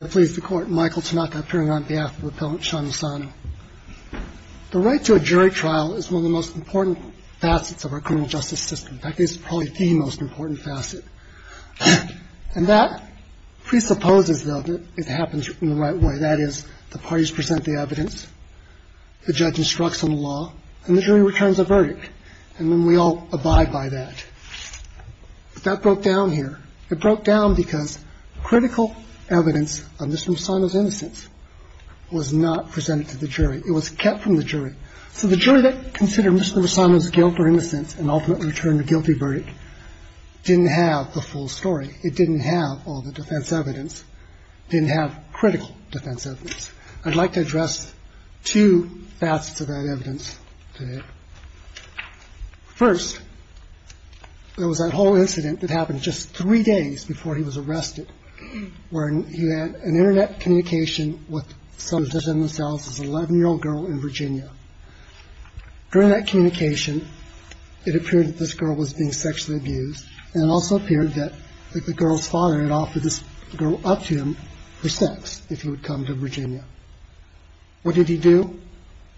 The right to a jury trial is one of the most important facets of our criminal justice system. In fact, it's probably the most important facet. And that presupposes, though, that it happens in the right way. That is, the parties present the evidence, the judge instructs on the law, and the jury returns a verdict, and then we all abide by that. But that broke down here. It broke down because critical evidence on Mr. Messano's innocence was not presented to the jury. It was kept from the jury. So the jury that considered Mr. Messano's guilt or innocence and ultimately returned a guilty verdict didn't have the full story. It didn't have all the defense evidence, didn't have critical defense evidence. I'd like to address two facets of that evidence today. First, there was that whole incident that happened just three days before he was arrested, where he had an Internet communication with some of them themselves, this 11-year-old girl in Virginia. During that communication, it appeared that this girl was being sexually abused, and it also appeared that the girl's father had offered this girl up to him for sex if he would come to Virginia. What did he do?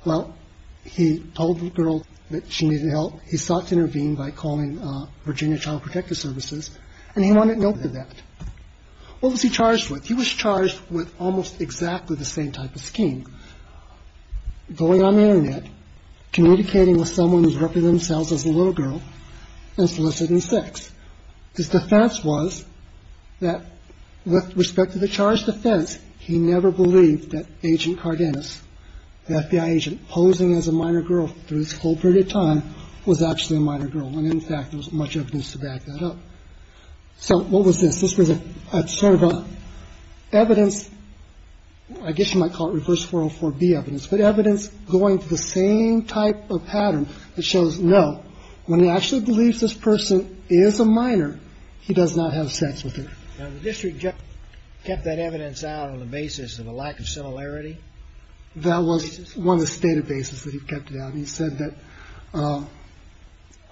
Well, he told the girl that she needed help. He sought to intervene by calling Virginia Child Protective Services, and he wanted no part of that. What was he charged with? He was charged with almost exactly the same type of scheme, going on the Internet, communicating with someone who represented themselves as a little girl, and soliciting sex. His defense was that with respect to the charge defense, he never believed that Agent Cardenas, the FBI agent posing as a minor girl through this whole period of time, was actually a minor girl. And in fact, there wasn't much evidence to back that up. So what was this? This was sort of evidence, I guess you might call it reverse 404B evidence, but evidence going to the same type of pattern that shows, no, when he actually believes this person is a minor, he does not have sex with her. Now, the district kept that evidence out on the basis of a lack of similarity? That was one of the state of bases that he kept it out. He said that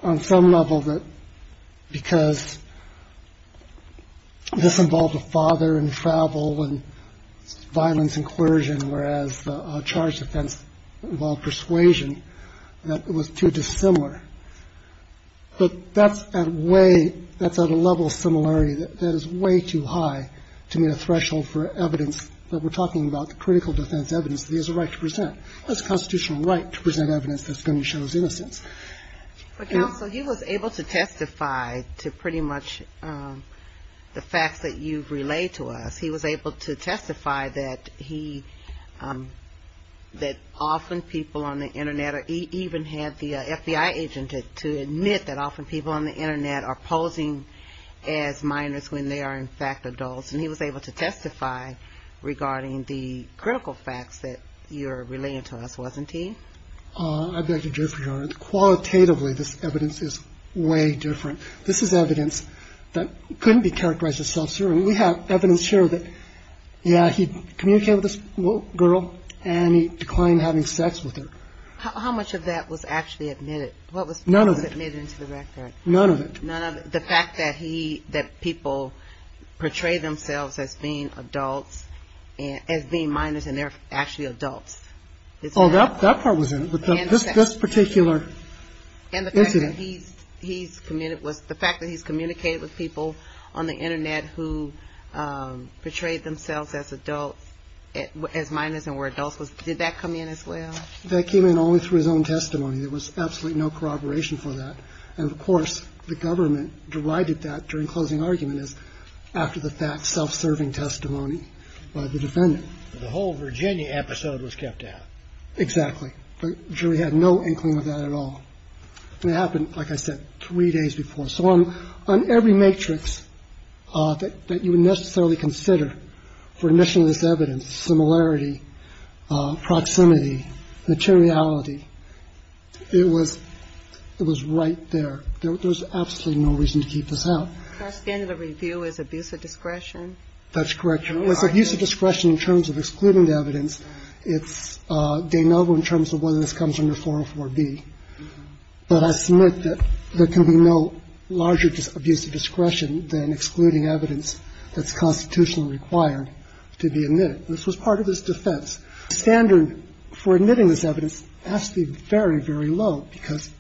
on some level that because this involved a father and travel and violence and coercion, whereas the charge defense, well, persuasion, that it was too dissimilar. But that's a way that's at a level of similarity that is way too high to meet a threshold for evidence. But we're talking about the critical defense evidence. There's a right to present. There's a constitutional right to present evidence that's going to show his innocence. But, Counsel, he was able to testify to pretty much the facts that you've relayed to us. He was able to testify that he, that often people on the Internet, or he even had the FBI agent to admit that often people on the Internet are posing as minors when they are, in fact, adults. And he was able to testify regarding the critical facts that you're relaying to us, wasn't he? I beg to differ, Your Honor. Qualitatively, this evidence is way different. This is evidence that couldn't be characterized as self-serving. We have evidence here that, yeah, he communicated with this little girl, and he declined having sex with her. How much of that was actually admitted? None of it. What was admitted into the record? None of it. The fact that he, that people portray themselves as being adults, as being minors, and they're actually adults. Oh, that part was in it, this particular incident. And the fact that he's communicated with people on the Internet who portrayed themselves as adults, as minors and were adults. Did that come in as well? That came in only through his own testimony. There was absolutely no corroboration for that. And, of course, the government derided that during closing argument as after the fact self-serving testimony by the defendant. The whole Virginia episode was kept out. Exactly. The jury had no inkling of that at all. And it happened, like I said, three days before. So on every matrix that you would necessarily consider for initialized evidence, similarity, proximity, materiality, it was right there. There was absolutely no reason to keep this out. Our standard of review is abuse of discretion. That's correct. It was abuse of discretion in terms of excluding the evidence. It's de novo in terms of whether this comes under 404B. But I submit that there can be no larger abuse of discretion than excluding evidence that's constitutionally required to be admitted. This was part of his defense. The standard for admitting this evidence has to be very, very low because,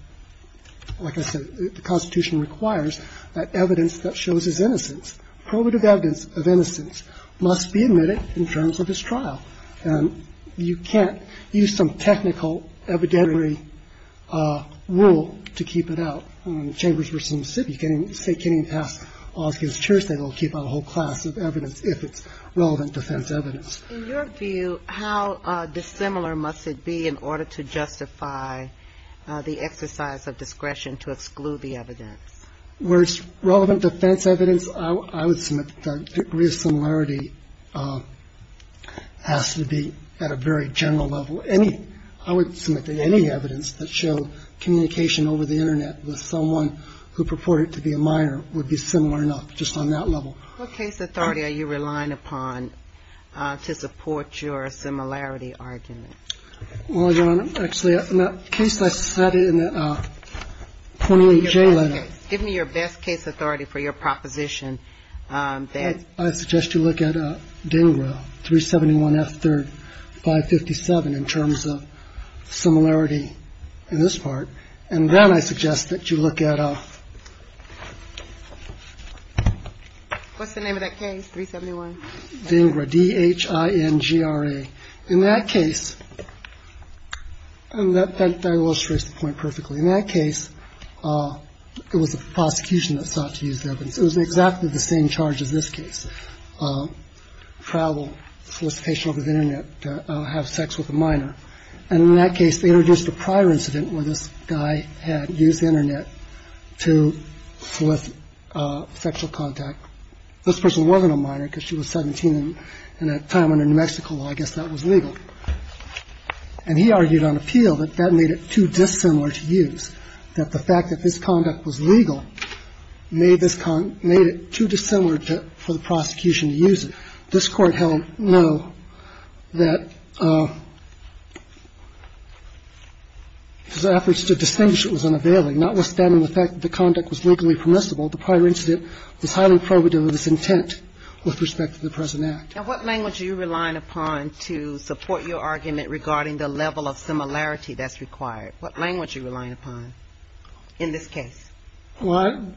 like I said, the Constitution requires that evidence that shows his innocence, probative evidence of innocence, must be admitted in terms of his trial. And you can't use some technical evidentiary rule to keep it out. In Chambers v. Mississippi, you can't even say it can't even pass Oski's Church, they will keep out a whole class of evidence if it's relevant defense evidence. In your view, how dissimilar must it be in order to justify the exercise of discretion to exclude the evidence? Where it's relevant defense evidence, I would submit that the degree of similarity has to be at a very general level. Any – I would submit that any evidence that showed communication over the Internet with someone who purported to be a minor would be similar enough, just on that level. What case authority are you relying upon to support your similarity argument? Well, Your Honor, actually, in that case I cited in the 28J letter. Give me your best case. Give me your best case authority for your proposition. I suggest you look at DINGRA, 371 F. 3rd, 557, in terms of similarity in this part. And then I suggest that you look at a – What's the name of that case, 371? DINGRA, D-H-I-N-G-R-A. In that case, and that illustrates the point perfectly. In that case, it was a prosecution that sought to use evidence. It was exactly the same charge as this case, travel, solicitation over the Internet to have sex with a minor. And in that case, they introduced a prior incident where this guy had used the Internet to solicit sexual contact. This person wasn't a minor because she was 17 at that time, and in New Mexico, I guess that was legal. And he argued on appeal that that made it too dissimilar to use, that the fact that this conduct was legal made this – made it too dissimilar for the prosecution to use it. This Court held no, that his efforts to distinguish it was unavailing, notwithstanding the fact that the conduct was legally permissible, the prior incident was highly probative of its intent with respect to the present act. Now, what language are you relying upon to support your argument regarding the level of similarity that's required? What language are you relying upon in this case? Well,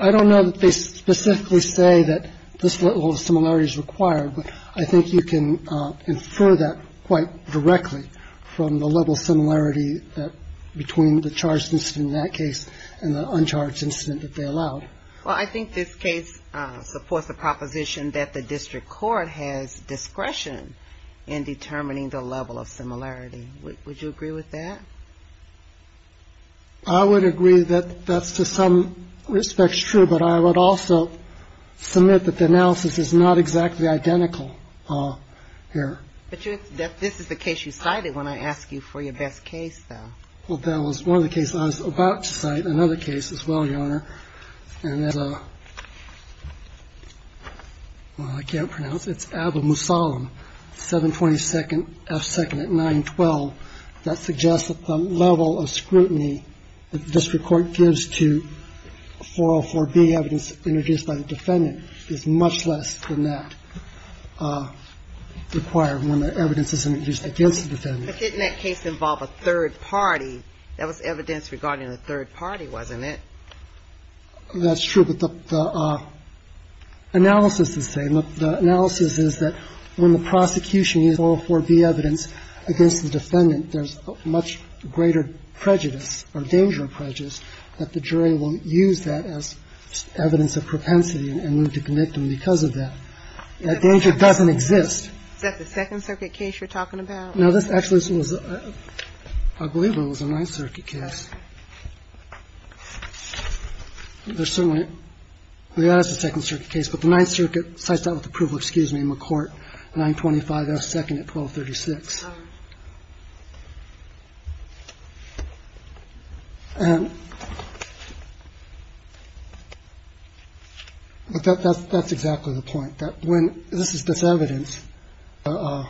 I don't know that they specifically say that this level of similarity is required, but I think you can infer that quite directly from the level of similarity between the charged incident in that case and the uncharged incident that they allowed. Well, I think this case supports the proposition that the district court has discretion in determining the level of similarity. Would you agree with that? I would agree that that's to some respects true, but I would also submit that the analysis is not exactly identical here. But this is the case you cited when I asked you for your best case, though. Well, that was one of the cases I was about to cite, another case as well, Your Honor. Well, I can't pronounce it. It's Abba Musallam, 722nd F2nd at 912. That suggests that the level of scrutiny that the district court gives to 404B evidence introduced by the defendant is much less than that required when the evidence is introduced against the defendant. But didn't that case involve a third party? That was evidence regarding a third party, wasn't it? That's true. But the analysis is the same. The analysis is that when the prosecution uses 404B evidence against the defendant, there's much greater prejudice or danger of prejudice that the jury won't use that as evidence of propensity and will neglect them because of that. That danger doesn't exist. Is that the Second Circuit case you're talking about? No, this actually was, I believe it was a Ninth Circuit case. There's certainly a second circuit case, but the Ninth Circuit cites that with approval. Excuse me, McCourt, 925 F2nd at 1236. That's exactly the point. I think that when this is this evidence, the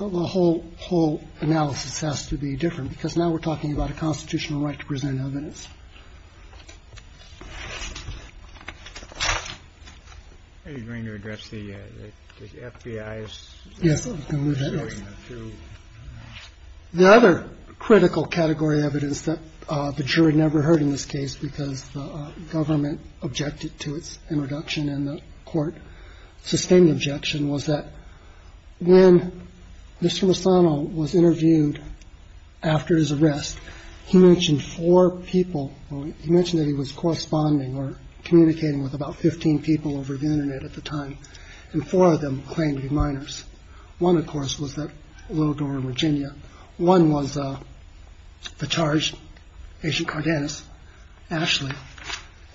whole analysis has to be different because now we're talking about a constitutional right to present evidence. Are you going to address the FBI's? Yes. The other critical category evidence that the jury never heard in this case because the government objected to its introduction and the court sustained objection was that when Mr. Lozano was interviewed after his arrest, he mentioned four people. He mentioned that he was corresponding or communicating with about 15 people over the Internet at the time. And four of them claimed to be minors. One, of course, was that little girl in Virginia. One was the charge, Agent Cardenas, Ashley,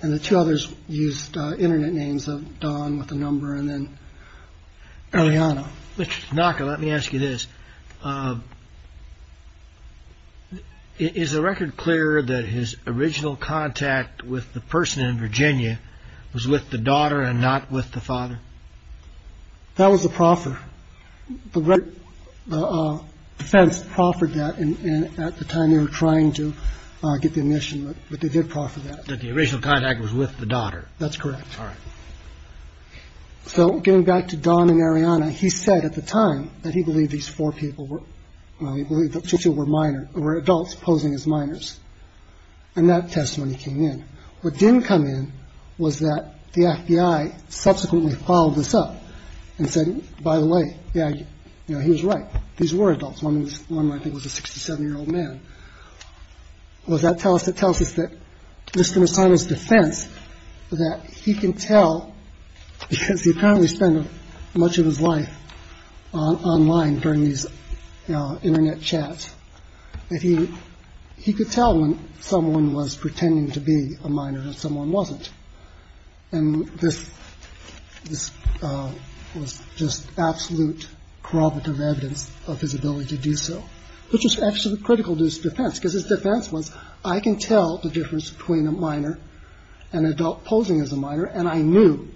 and the two others used Internet names of Don with a number. And then Eliana. Let me ask you this. Is the record clear that his original contact with the person in Virginia was with the daughter and not with the father? That was a proffer. The defense proffered that. And at the time, they were trying to get the admission. But they did proffer that the original contact was with the daughter. That's correct. All right. So getting back to Don and Eliana, he said at the time that he believed these four people were, well, he believed that since you were minor or adults posing as minors and that testimony came in, what didn't come in was that the FBI subsequently followed this up and said, by the way, yeah, you know, he was right. These were adults. One was one might think was a 67 year old man. Well, that tells us it tells us that Mr. Simon's defense that he can tell because he apparently spent much of his life online during these Internet chats. And he he could tell when someone was pretending to be a minor and someone wasn't. And this was just absolute corroborative evidence of his ability to do so, which is actually critical to his defense, because his defense was, I can tell the difference between a minor and adult posing as a minor. And I knew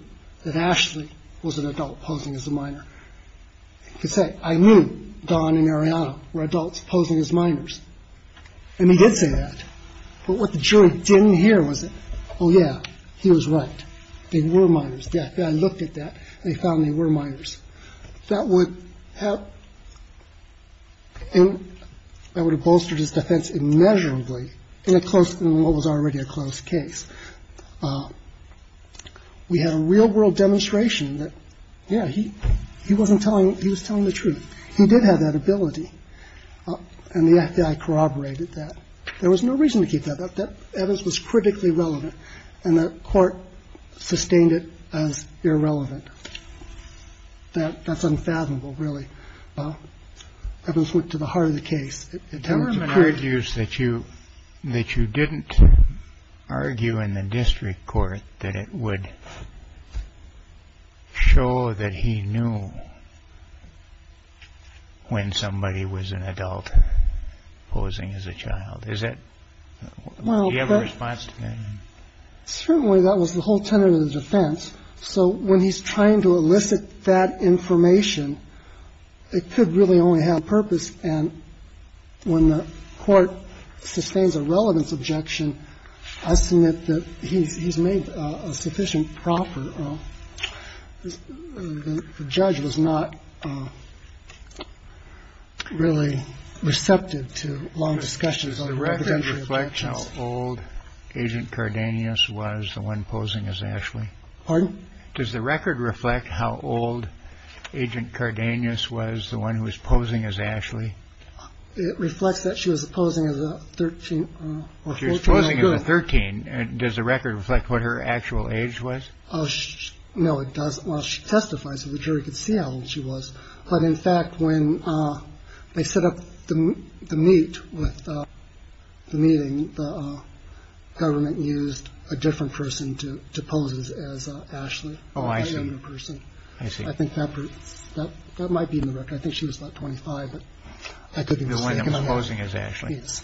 that Ashley was an adult posing as a minor. I knew Don and Eliana were adults posing as minors. And he did say that. But what the jury didn't hear was, oh, yeah, he was right. They were minors. Yeah. I looked at that. They found they were minors. That would help. I would have bolstered his defense immeasurably. And it close to what was already a close case. We had a real world demonstration that, yeah, he he wasn't telling. He was telling the truth. He did have that ability. And the FBI corroborated that there was no reason to keep that up. That was critically relevant. And the court sustained it as irrelevant. That that's unfathomable, really. Evans went to the heart of the case. The government argues that you that you didn't argue in the district court that it would show that he knew. When somebody was an adult posing as a child, is that you have a response to that? Certainly that was the whole tenor of the defense. So when he's trying to elicit that information, it could really only have purpose. And when the court sustains a relevance objection, I submit that he's made a sufficient proper. The judge was not really receptive to long discussions on the record. Old Agent Cardenas was the one posing as Ashley. Does the record reflect how old Agent Cardenas was the one who was posing as Ashley? Reflects that she was posing as a 13 year old 13. Does the record reflect what her actual age was? Oh, no, it doesn't. Well, she testifies to the jury could see how old she was. But in fact, when they set up the meet with the meeting, the government used a different person to pose as Ashley. Oh, I see. I see. I think that might be in the record. I think she was about 25. I could be posing as Ashley. Yes.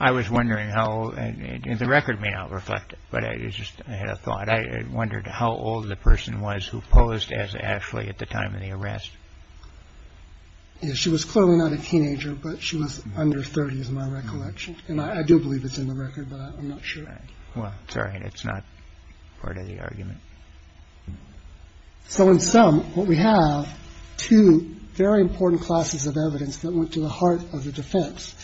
I was wondering how the record may not reflect it, but I just had a thought. I wondered how old the person was who posed as Ashley at the time of the arrest. She was clearly not a teenager, but she was under 30 is my recollection. And I do believe it's in the record, but I'm not sure. Well, sorry, it's not part of the argument. So in sum, what we have two very important classes of evidence that went to the heart of the defense,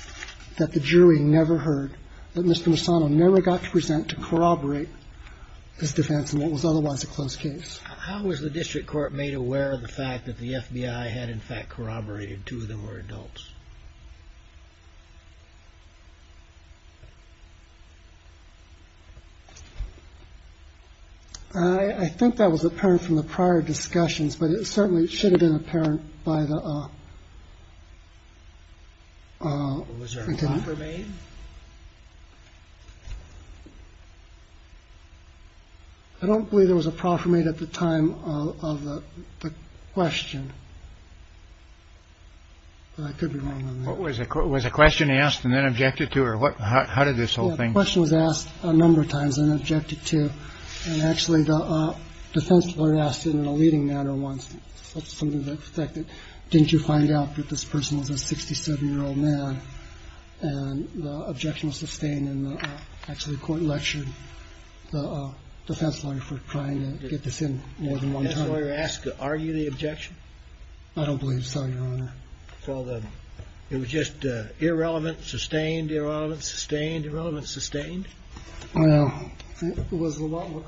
that the jury never heard, that Mr. Masano never got to present to corroborate this defense, and what was otherwise a close case. How was the district court made aware of the fact that the FBI had in fact corroborated two of them were adults? I think that was apparent from the prior discussions, but it certainly should have been apparent by the. I don't believe there was a proper made at the time of the question. I could be wrong. What was it? Was a question asked and then objected to or what? How did this whole thing? The question was asked a number of times and objected to. And actually the defense were asked in a leading matter once. That's something that affected. Didn't you find out that this person was a 67 year old man? And the objection was sustained and actually court lectured the defense lawyer for trying to get this in more than once. So you're asked to argue the objection. I don't believe so. It was just irrelevant. Sustained, irrelevant, sustained, irrelevant, sustained. It was a lot more.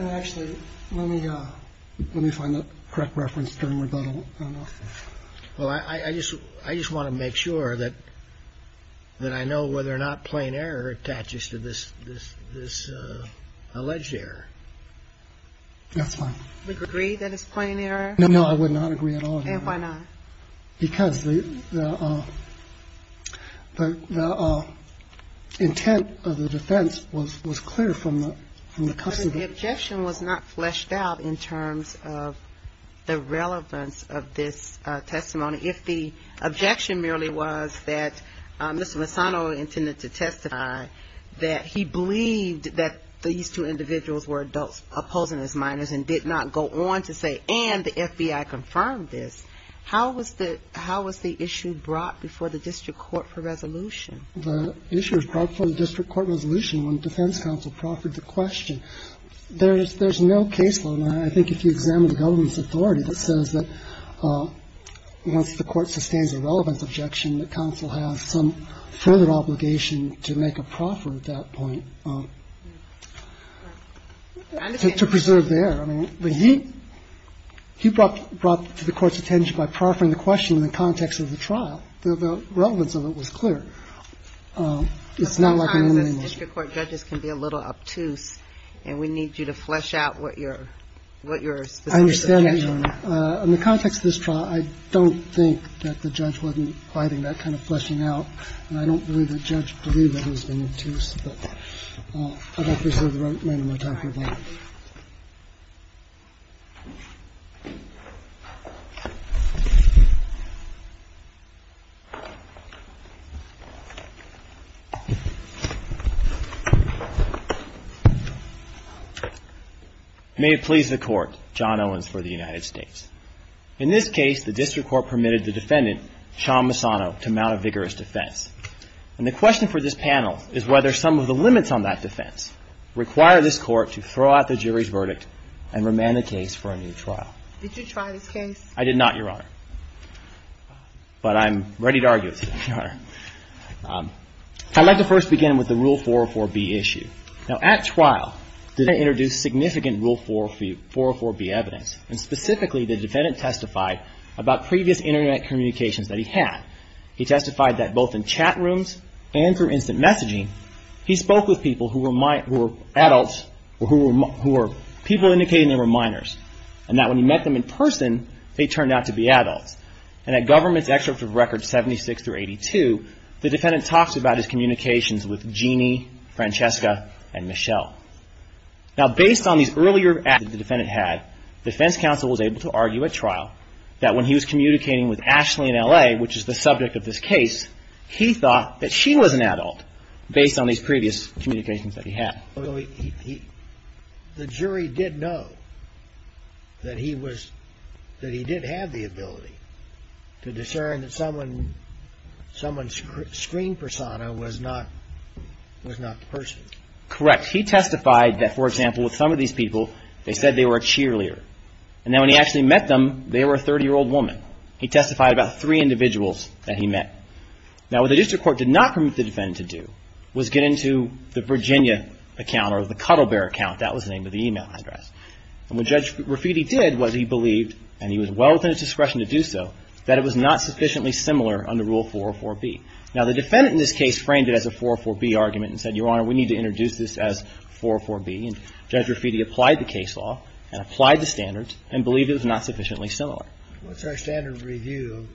Actually, let me let me find the correct reference. Well, I just I just want to make sure that that I know whether or not plain error attaches to this. This this alleged error. That's fine. We agree that it's plain error. No, no, I would not agree at all. And why not? Because the intent of the defense was was clear from the customer. The objection was not fleshed out in terms of the relevance of this testimony. If the objection merely was that Mr. Masano intended to testify that he believed that these two individuals were adults opposing as minors and did not go on to say and the FBI confirmed this. How was the how was the issue brought before the district court for resolution? The issue was brought before the district court resolution when the defense counsel proffered the question. There's there's no case where I think if you examine the government's authority that says that once the court sustains a relevance objection, the counsel has some further obligation to make a proffer at that point to preserve their. But he he brought brought to the court's attention by proffering the question in the context of the trial. The relevance of it was clear. It's not like the district court judges can be a little obtuse. And we need you to flesh out what you're what you're understanding. In the context of this trial, I don't think that the judge wasn't fighting that kind of fleshing out. May it please the court. John Owens for the United States. In this case, the district court permitted the defendant, Sean Masano, to mount a vigorous defense. And the question for this panel is whether some of the limits on that defense require this court to throw out the jury's verdict and remand the case for a new trial. Did you try this case? I did not, Your Honor. But I'm ready to argue with you, Your Honor. I'd like to first begin with the Rule 404B issue. Now, at trial, the defendant introduced significant Rule 404B evidence. And specifically, the defendant testified about previous Internet communications that he had. He testified that both in chat rooms and through instant messaging, he spoke with people who were adults or who were people indicating they were minors. And that when he met them in person, they turned out to be adults. And at Governments Excerpts of Records 76 through 82, the defendant talks about his communications with Jeannie, Francesca, and Michelle. Now, based on these earlier acts that the defendant had, defense counsel was able to argue at trial that when he was communicating with Ashley in L.A., which is the subject of this case, he thought that she was an adult based on these previous communications that he had. The jury did know that he was – that he did have the ability to discern that someone's screen persona was not the person. Correct. He testified that, for example, with some of these people, they said they were a cheerleader. And then when he actually met them, they were a 30-year-old woman. He testified about three individuals that he met. Now, what the district court did not permit the defendant to do was get into the Virginia account or the Cuddle Bear account. That was the name of the e-mail address. And what Judge Rafiti did was he believed, and he was well within his discretion to do so, that it was not sufficiently similar under Rule 404B. Now, the defendant in this case framed it as a 404B argument and said, Your Honor, we need to introduce this as 404B. And Judge Rafiti applied the case law and applied the standards and believed it was not sufficiently similar. What's our standard review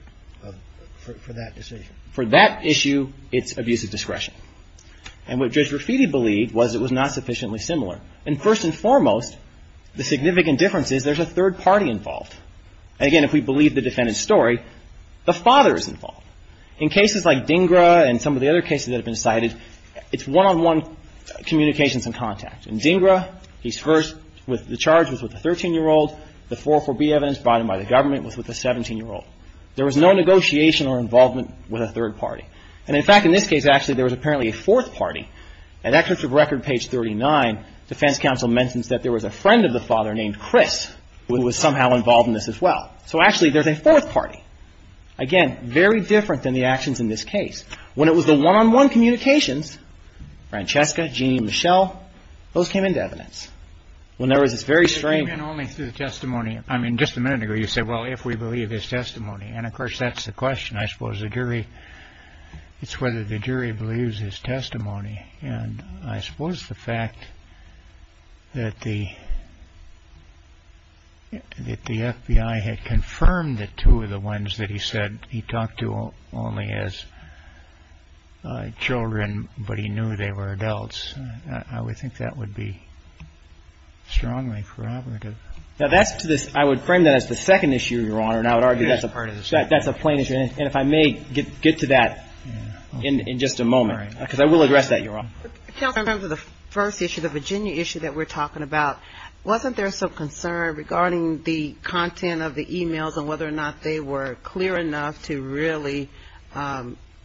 for that decision? For that issue, it's abuse of discretion. And what Judge Rafiti believed was it was not sufficiently similar. And first and foremost, the significant difference is there's a third party involved. Again, if we believe the defendant's story, the father is involved. In cases like DINGRA and some of the other cases that have been cited, it's one-on-one communications and contact. In DINGRA, he's first with the charge, was with a 13-year-old. The 404B evidence brought in by the government was with a 17-year-old. There was no negotiation or involvement with a third party. And, in fact, in this case, actually, there was apparently a fourth party. At Excerpt of Record, page 39, defense counsel mentions that there was a friend of the father named Chris who was somehow involved in this as well. So, actually, there's a fourth party. Again, very different than the actions in this case. When it was the one-on-one communications, Francesca, Jeanne, Michelle, those came into evidence. When there was this very strange – It came in only through the testimony. I mean, just a minute ago, you said, well, if we believe his testimony. And, of course, that's the question. I suppose the jury – it's whether the jury believes his testimony. And I suppose the fact that the FBI had confirmed that two of the ones that he said he talked to only as children, but he knew they were adults. I would think that would be strongly corroborative. Now, that's to this – I would frame that as the second issue, Your Honor, and I would argue that's a plain issue. And if I may get to that in just a moment. Because I will address that, Your Honor. Counsel, in terms of the first issue, the Virginia issue that we're talking about, wasn't there some concern regarding the content of the e-mails and whether or not they were clear enough to really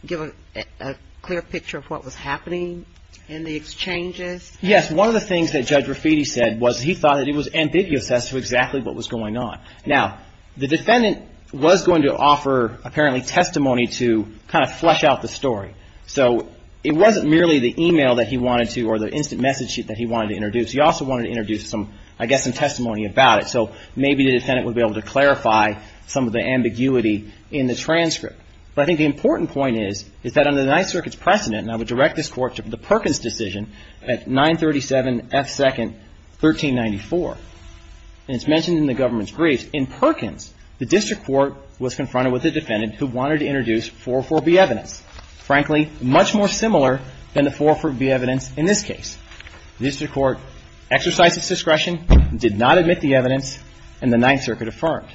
give a clear picture of what was happening in the exchanges? Yes. One of the things that Judge Rafiti said was he thought it was ambiguous as to exactly what was going on. Now, the defendant was going to offer, apparently, testimony to kind of flesh out the story. So it wasn't merely the e-mail that he wanted to or the instant message sheet that he wanted to introduce. He also wanted to introduce some, I guess, some testimony about it. So maybe the defendant would be able to clarify some of the ambiguity in the transcript. But I think the important point is, is that under the Ninth Circuit's precedent, and I would direct this Court to the Perkins decision at 937 F. 2nd, 1394. And it's mentioned in the government's briefs. In Perkins, the district court was confronted with a defendant who wanted to introduce 404B evidence. Frankly, much more similar than the 404B evidence in this case. The district court exercised its discretion, did not admit the evidence, and the Ninth Circuit affirmed.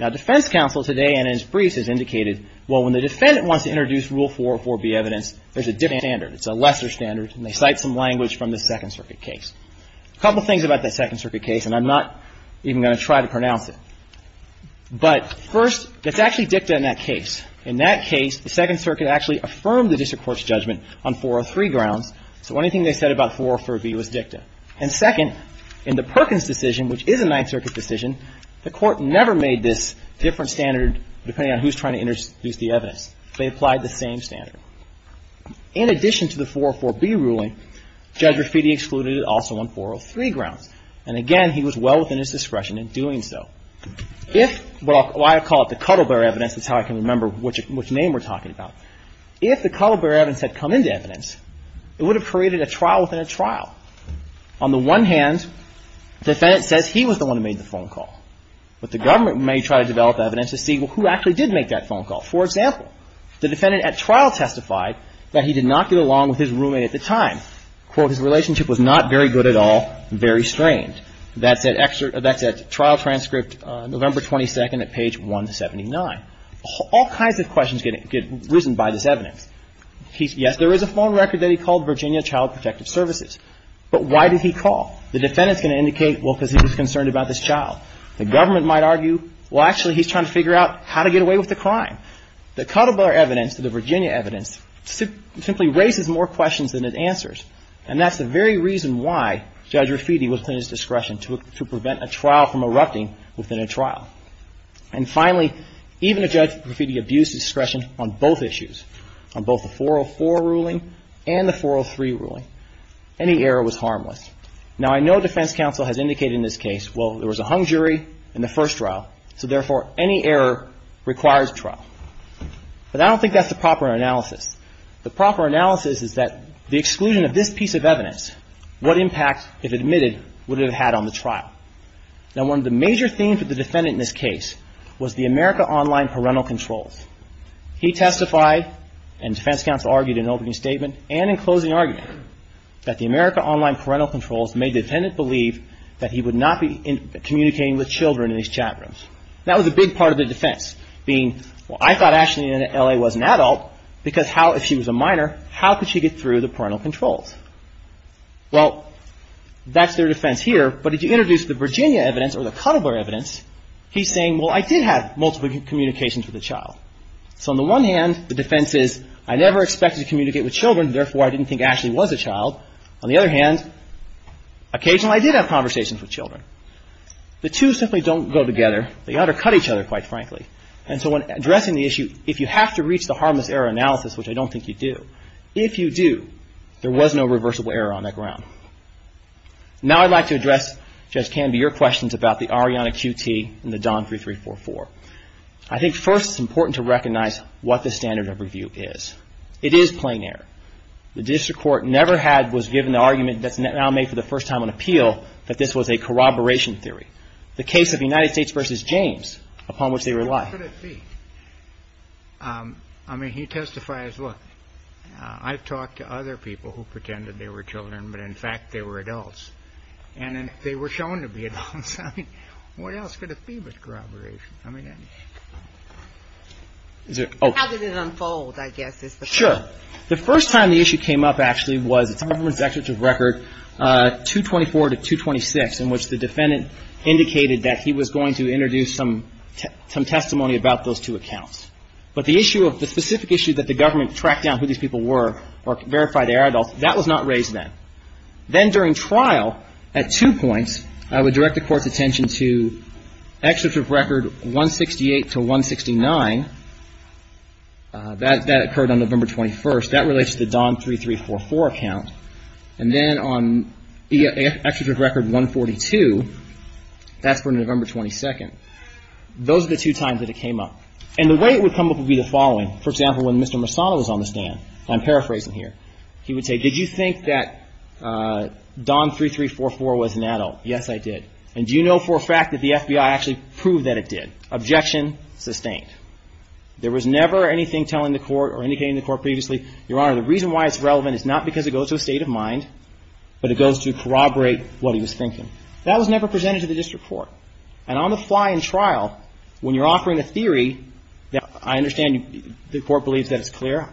Now, defense counsel today, in its briefs, has indicated, well, when the defendant wants to introduce rule 404B evidence, there's a different standard. It's a lesser standard. And they cite some language from the Second Circuit case. A couple of things about the Second Circuit case, and I'm not even going to try to pronounce it. But first, it's actually dicta in that case. In that case, the Second Circuit actually affirmed the district court's judgment on 403 grounds. So anything they said about 404B was dicta. And second, in the Perkins decision, which is a Ninth Circuit decision, the court never made this different standard, depending on who's trying to introduce the evidence. They applied the same standard. In addition to the 404B ruling, Judge Graffiti excluded it also on 403 grounds. And again, he was well within his discretion in doing so. If, well, I call it the Cuddle Bear evidence. That's how I can remember which name we're talking about. If the Cuddle Bear evidence had come into evidence, it would have created a trial within a trial. On the one hand, the defendant says he was the one who made the phone call. But the government may try to develop evidence to see, well, who actually did make that phone call? For example, the defendant at trial testified that he did not get along with his roommate at the time. Quote, his relationship was not very good at all, very strained. And that's at trial transcript, November 22nd at page 179. All kinds of questions get risen by this evidence. Yes, there is a phone record that he called Virginia Child Protective Services. But why did he call? The defendant's going to indicate, well, because he was concerned about this child. The government might argue, well, actually, he's trying to figure out how to get away with the crime. The Cuddle Bear evidence, the Virginia evidence, simply raises more questions than it answers. And that's the very reason why Judge Graffiti was at his discretion, to prevent a trial from erupting within a trial. And finally, even if Judge Graffiti abused his discretion on both issues, on both the 404 ruling and the 403 ruling, any error was harmless. Now, I know defense counsel has indicated in this case, well, there was a hung jury in the first trial. So, therefore, any error requires trial. But I don't think that's the proper analysis. The proper analysis is that the exclusion of this piece of evidence, what impact, if admitted, would it have had on the trial? Now, one of the major themes of the defendant in this case was the America Online Parental Controls. He testified, and defense counsel argued in an opening statement and in closing argument, that the America Online Parental Controls made the defendant believe that he would not be communicating with children in these chat rooms. That was a big part of the defense, being, well, I thought Ashley in L.A. was an adult, because how, if she was a minor, how could she get through the parental controls? Well, that's their defense here, but if you introduce the Virginia evidence or the Cuddlebore evidence, he's saying, well, I did have multiple communications with a child. So, on the one hand, the defense is, I never expected to communicate with children, therefore, I didn't think Ashley was a child. On the other hand, occasionally I did have conversations with children. The two simply don't go together. They undercut each other, quite frankly, and so when addressing the issue, if you have to reach the harmless error analysis, which I don't think you do, if you do, there was no reversible error on that ground. Now, I'd like to address, Judge Canby, your questions about the Ariana QT and the Don 3344. I think first it's important to recognize what the standard of review is. It is plain error. The district court never had, was given the argument that's now made for the first time on appeal that this was a corroboration theory. The case of the United States v. James, upon which they rely. I mean, he testifies, look, I've talked to other people who pretended they were children, but in fact they were adults. And they were shown to be adults. I mean, what else could it be but corroboration? How did it unfold, I guess, is the question. Sure. The first time the issue came up, actually, was the government's executive record, 224 to 226, in which the defendant indicated that he was going to introduce some testimony about those two accounts. But the issue, the specific issue that the government tracked down who these people were or verified they were adults, that was not raised then. Then during trial, at two points, I would direct the Court's attention to executive record 168 to 169. That occurred on November 21st. That relates to the Don 3344 account. And then on executive record 142, that's from November 22nd. Those are the two times that it came up. And the way it would come up would be the following. For example, when Mr. Marsano was on the stand, and I'm paraphrasing here, he would say, did you think that Don 3344 was an adult? Your Honor, the reason why it's relevant is not because it goes to a state of mind, but it goes to corroborate what he was thinking. That was never presented to the district court. And on the fly in trial, when you're offering a theory, I understand the Court believes that it's clear.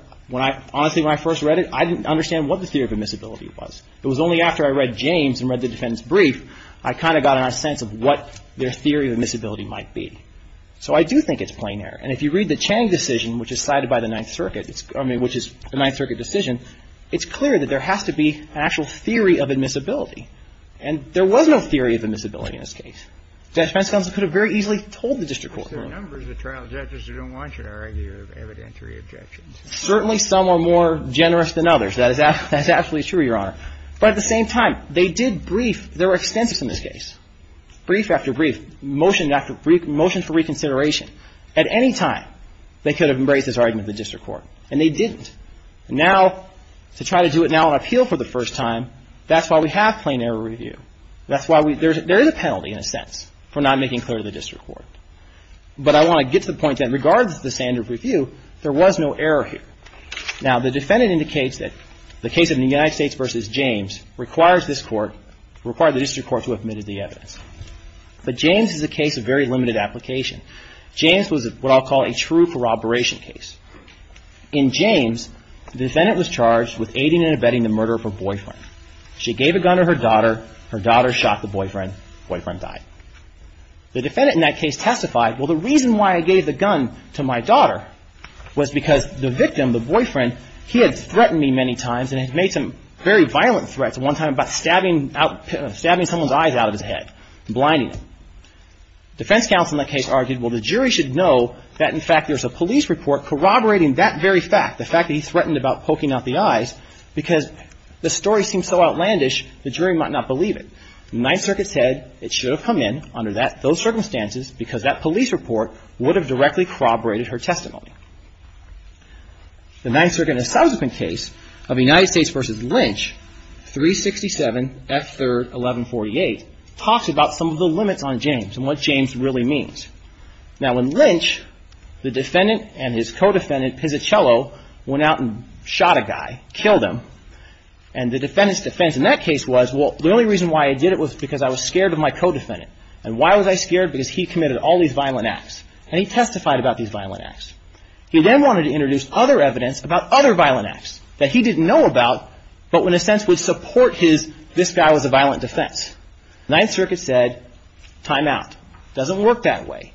Honestly, when I first read it, I didn't understand what the theory of admissibility was. It was only after I read James and read the defendant's brief, I kind of got a sense of what their theory of admissibility might be. So I do think it's planar. And if you read the Chang decision, which is cited by the Ninth Circuit, I mean, which is the Ninth Circuit decision, it's clear that there has to be an actual theory of admissibility. And there was no theory of admissibility in this case. The defense counsel could have very easily told the district court. Certainly some are more generous than others. That is absolutely true, Your Honor. But at the same time, they did brief. There were extensives in this case. Brief after brief, motion after motion for reconsideration. At any time, they could have embraced this argument with the district court, and they didn't. Now, to try to do it now on appeal for the first time, that's why we have planar review. That's why we – there is a penalty, in a sense, for not making clear to the district court. But I want to get to the point that, regardless of the standard of review, there was no error here. Now, the defendant indicates that the case of the United States v. James requires this court – required the district court to have admitted the evidence. But James is a case of very limited application. James was what I'll call a true corroboration case. In James, the defendant was charged with aiding and abetting the murder of her boyfriend. She gave a gun to her daughter. Her daughter shot the boyfriend. Boyfriend died. The defendant in that case testified, well, the reason why I gave the gun to my daughter was because the victim, the boyfriend, he had threatened me many times and had made some very violent threats. One time about stabbing out – stabbing someone's eyes out of his head and blinding them. Defense counsel in that case argued, well, the jury should know that, in fact, there's a police report corroborating that very fact, the fact that he threatened about poking out the eyes, because the story seemed so outlandish, the jury might not believe it. The Ninth Circuit said it should have come in under that – those circumstances, because that police report would have directly corroborated her testimony. The Ninth Circuit in a subsequent case of United States v. Lynch, 367 F. 3rd, 1148, talks about some of the limits on James and what James really means. Now, in Lynch, the defendant and his co-defendant, Pizzacello, went out and shot a guy, killed him, and the defendant's defense in that case was, well, the only reason why I did it was because I was scared of my co-defendant, and why was I scared? Because he committed all these violent acts, and he testified about these violent acts. He then wanted to introduce other evidence about other violent acts that he didn't know about, but in a sense would support his – this guy was a violent defense. Ninth Circuit said, time out. Doesn't work that way.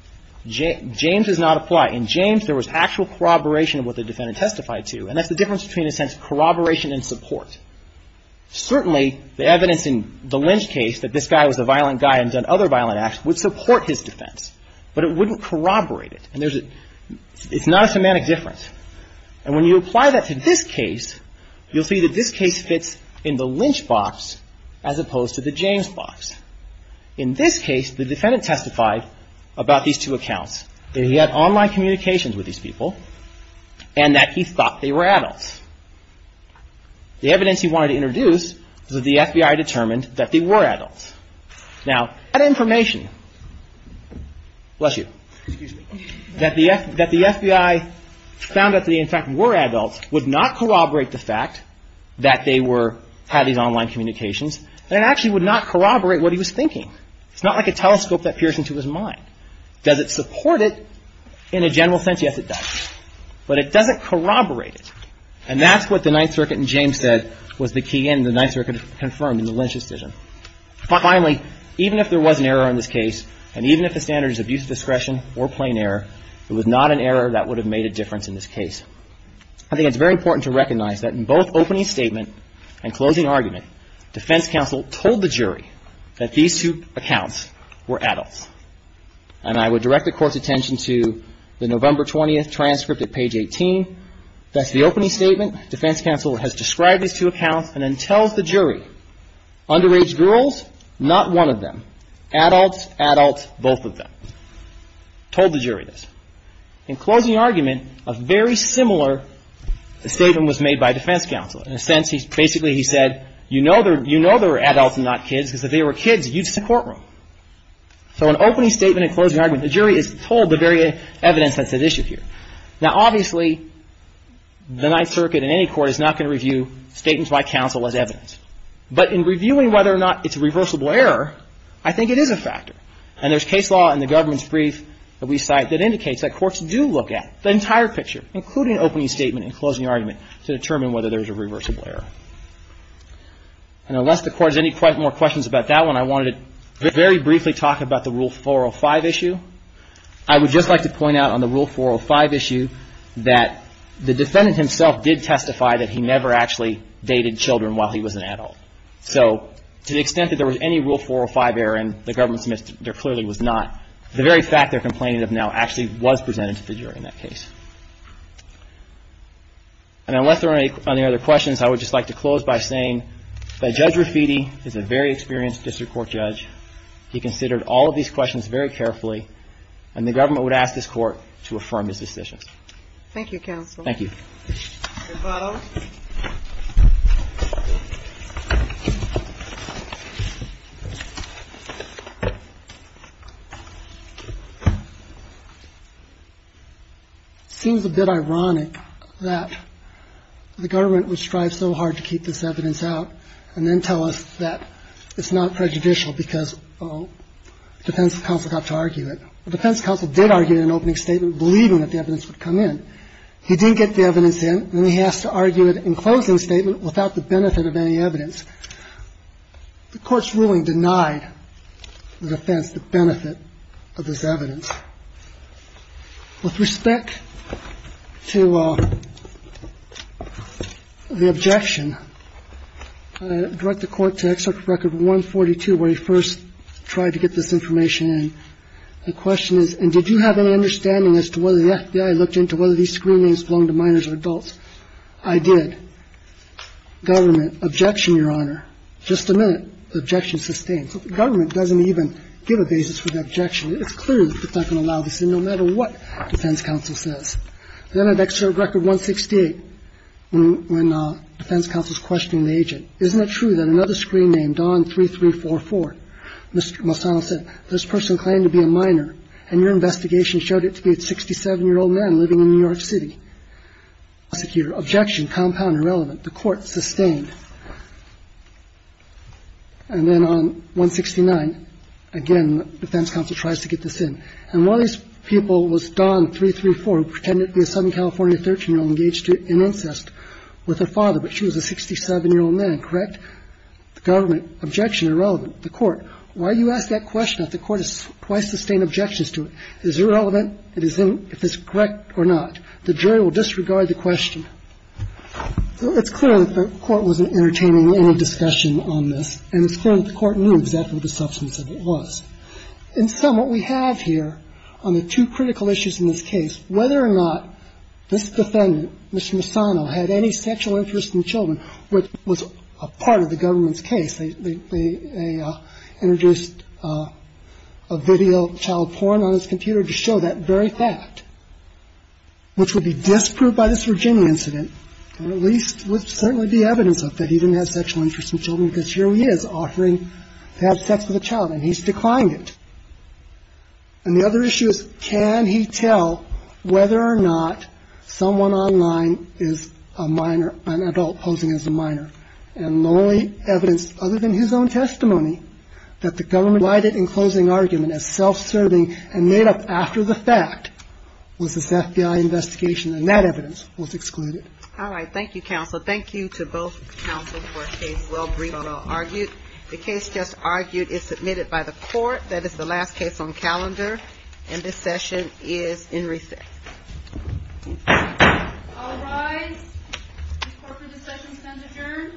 James does not apply. In James, there was actual corroboration of what the defendant testified to, and that's the difference between, in a sense, corroboration and support. Certainly, the evidence in the Lynch case, that this guy was a violent guy and done other violent acts, would support his defense, but it wouldn't corroborate it, and there's a – it's not a semantic difference. And when you apply that to this case, you'll see that this case fits in the Lynch box as opposed to the James box. In this case, the defendant testified about these two accounts, that he had online communications with these people, and that he thought they were adults. The evidence he wanted to introduce was that the FBI determined that they were adults. Now, that information – bless you – that the FBI found out that they, in fact, were adults, would not corroborate the fact that they were – had these online communications, and it actually would not corroborate what he was thinking. It's not like a telescope that peers into his mind. Does it support it in a general sense? Yes, it does. But it doesn't corroborate it. And that's what the Ninth Circuit in James said was the key in the Ninth Circuit confirmed in the Lynch decision. Finally, even if there was an error in this case, and even if the standard is abuse of discretion or plain error, it was not an error that would have made a difference in this case. I think it's very important to recognize that in both opening statement and closing argument, defense counsel told the jury that these two accounts were adults. And I would direct the Court's attention to the November 20th transcript at page 18. That's the opening statement. Defense counsel has described these two accounts and then tells the jury, underage girls, not one of them. Adults, adults, both of them. Told the jury this. In closing argument, a very similar statement was made by defense counsel. In a sense, basically he said, you know they're adults and not kids because if they were kids, you'd sit in a courtroom. So in opening statement and closing argument, the jury is told the very evidence that's at issue here. Now, obviously, the Ninth Circuit in any court is not going to review statements by counsel as evidence. But in reviewing whether or not it's a reversible error, I think it is a factor. And there's case law in the government's brief that we cite that indicates that courts do look at the entire picture, including opening statement and closing argument, to determine whether there's a reversible error. And unless the Court has any more questions about that one, I wanted to very briefly talk about the Rule 405 issue. I would just like to point out on the Rule 405 issue that the defendant himself did testify that he never actually dated children while he was an adult. So to the extent that there was any Rule 405 error and the government submits there clearly was not, the very fact they're complaining of now actually was presented to the jury in that case. And unless there are any other questions, I would just like to close by saying that Judge Rafiti is a very experienced district court judge. He considered all of these questions very carefully, and the government would ask this court to affirm his decisions. Thank you, counsel. Thank you. Mr. Barrow. It seems a bit ironic that the government would strive so hard to keep this evidence out and then tell us that it's not prejudicial because, oh, the defense counsel got to argue it. The defense counsel did argue in an opening statement, believing that the evidence would come in. He didn't get the evidence in, and he has to argue it in closing statement without the benefit of any evidence. The court's ruling denied the defense the benefit of this evidence. With respect to the objection, I direct the Court to Excerpt Record 142, where he first tried to get this information in. The question is, and did you have any understanding as to whether the FBI looked into whether these screen names belonged to minors or adults? I did. Government, objection, Your Honor. Just a minute. Objection sustained. So the government doesn't even give a basis for the objection. It's clear that it's not going to allow this in no matter what defense counsel says. Then I have Excerpt Record 168, when defense counsel is questioning the agent. The defense counsel is asking, isn't it true that another screen name, Don 3344, Mr. Masano said, this person claimed to be a minor, and your investigation showed it to be a 67-year-old man living in New York City? Objection, compound irrelevant. The court sustained. And then on 169, again, defense counsel tries to get this in. And one of these people was Don 334, who pretended to be a Southern California 13-year-old engaged in incest with her father, but she was a 67-year-old man. Correct? Government, objection, irrelevant. The court. Why do you ask that question if the court has twice sustained objections to it? Is it irrelevant? Is it correct or not? The jury will disregard the question. So it's clear that the court wasn't entertaining any discussion on this, and it's clear that the court knew exactly what the substance of it was. In sum, what we have here on the two critical issues in this case, whether or not this defendant, Mr. Masano, had any sexual interest in children, which was a part of the government's case, they introduced a video of child porn on his computer to show that very fact, which would be disproved by this Virginia incident, or at least would certainly be evidence of that he didn't have sexual interest in children because here he is offering to have sex with a child, and he's declined it. And the other issue is, can he tell whether or not someone online is a minor, an adult posing as a minor? And the only evidence other than his own testimony that the government provided in closing argument as self-serving and made up after the fact was this FBI investigation, and that evidence was excluded. All right. Thank you, counsel. Thank you to both counsel for a case well briefed and well argued. The case just argued is submitted by the court. That is the last case on calendar, and this session is in recess. All rise. This court for this session stands adjourned.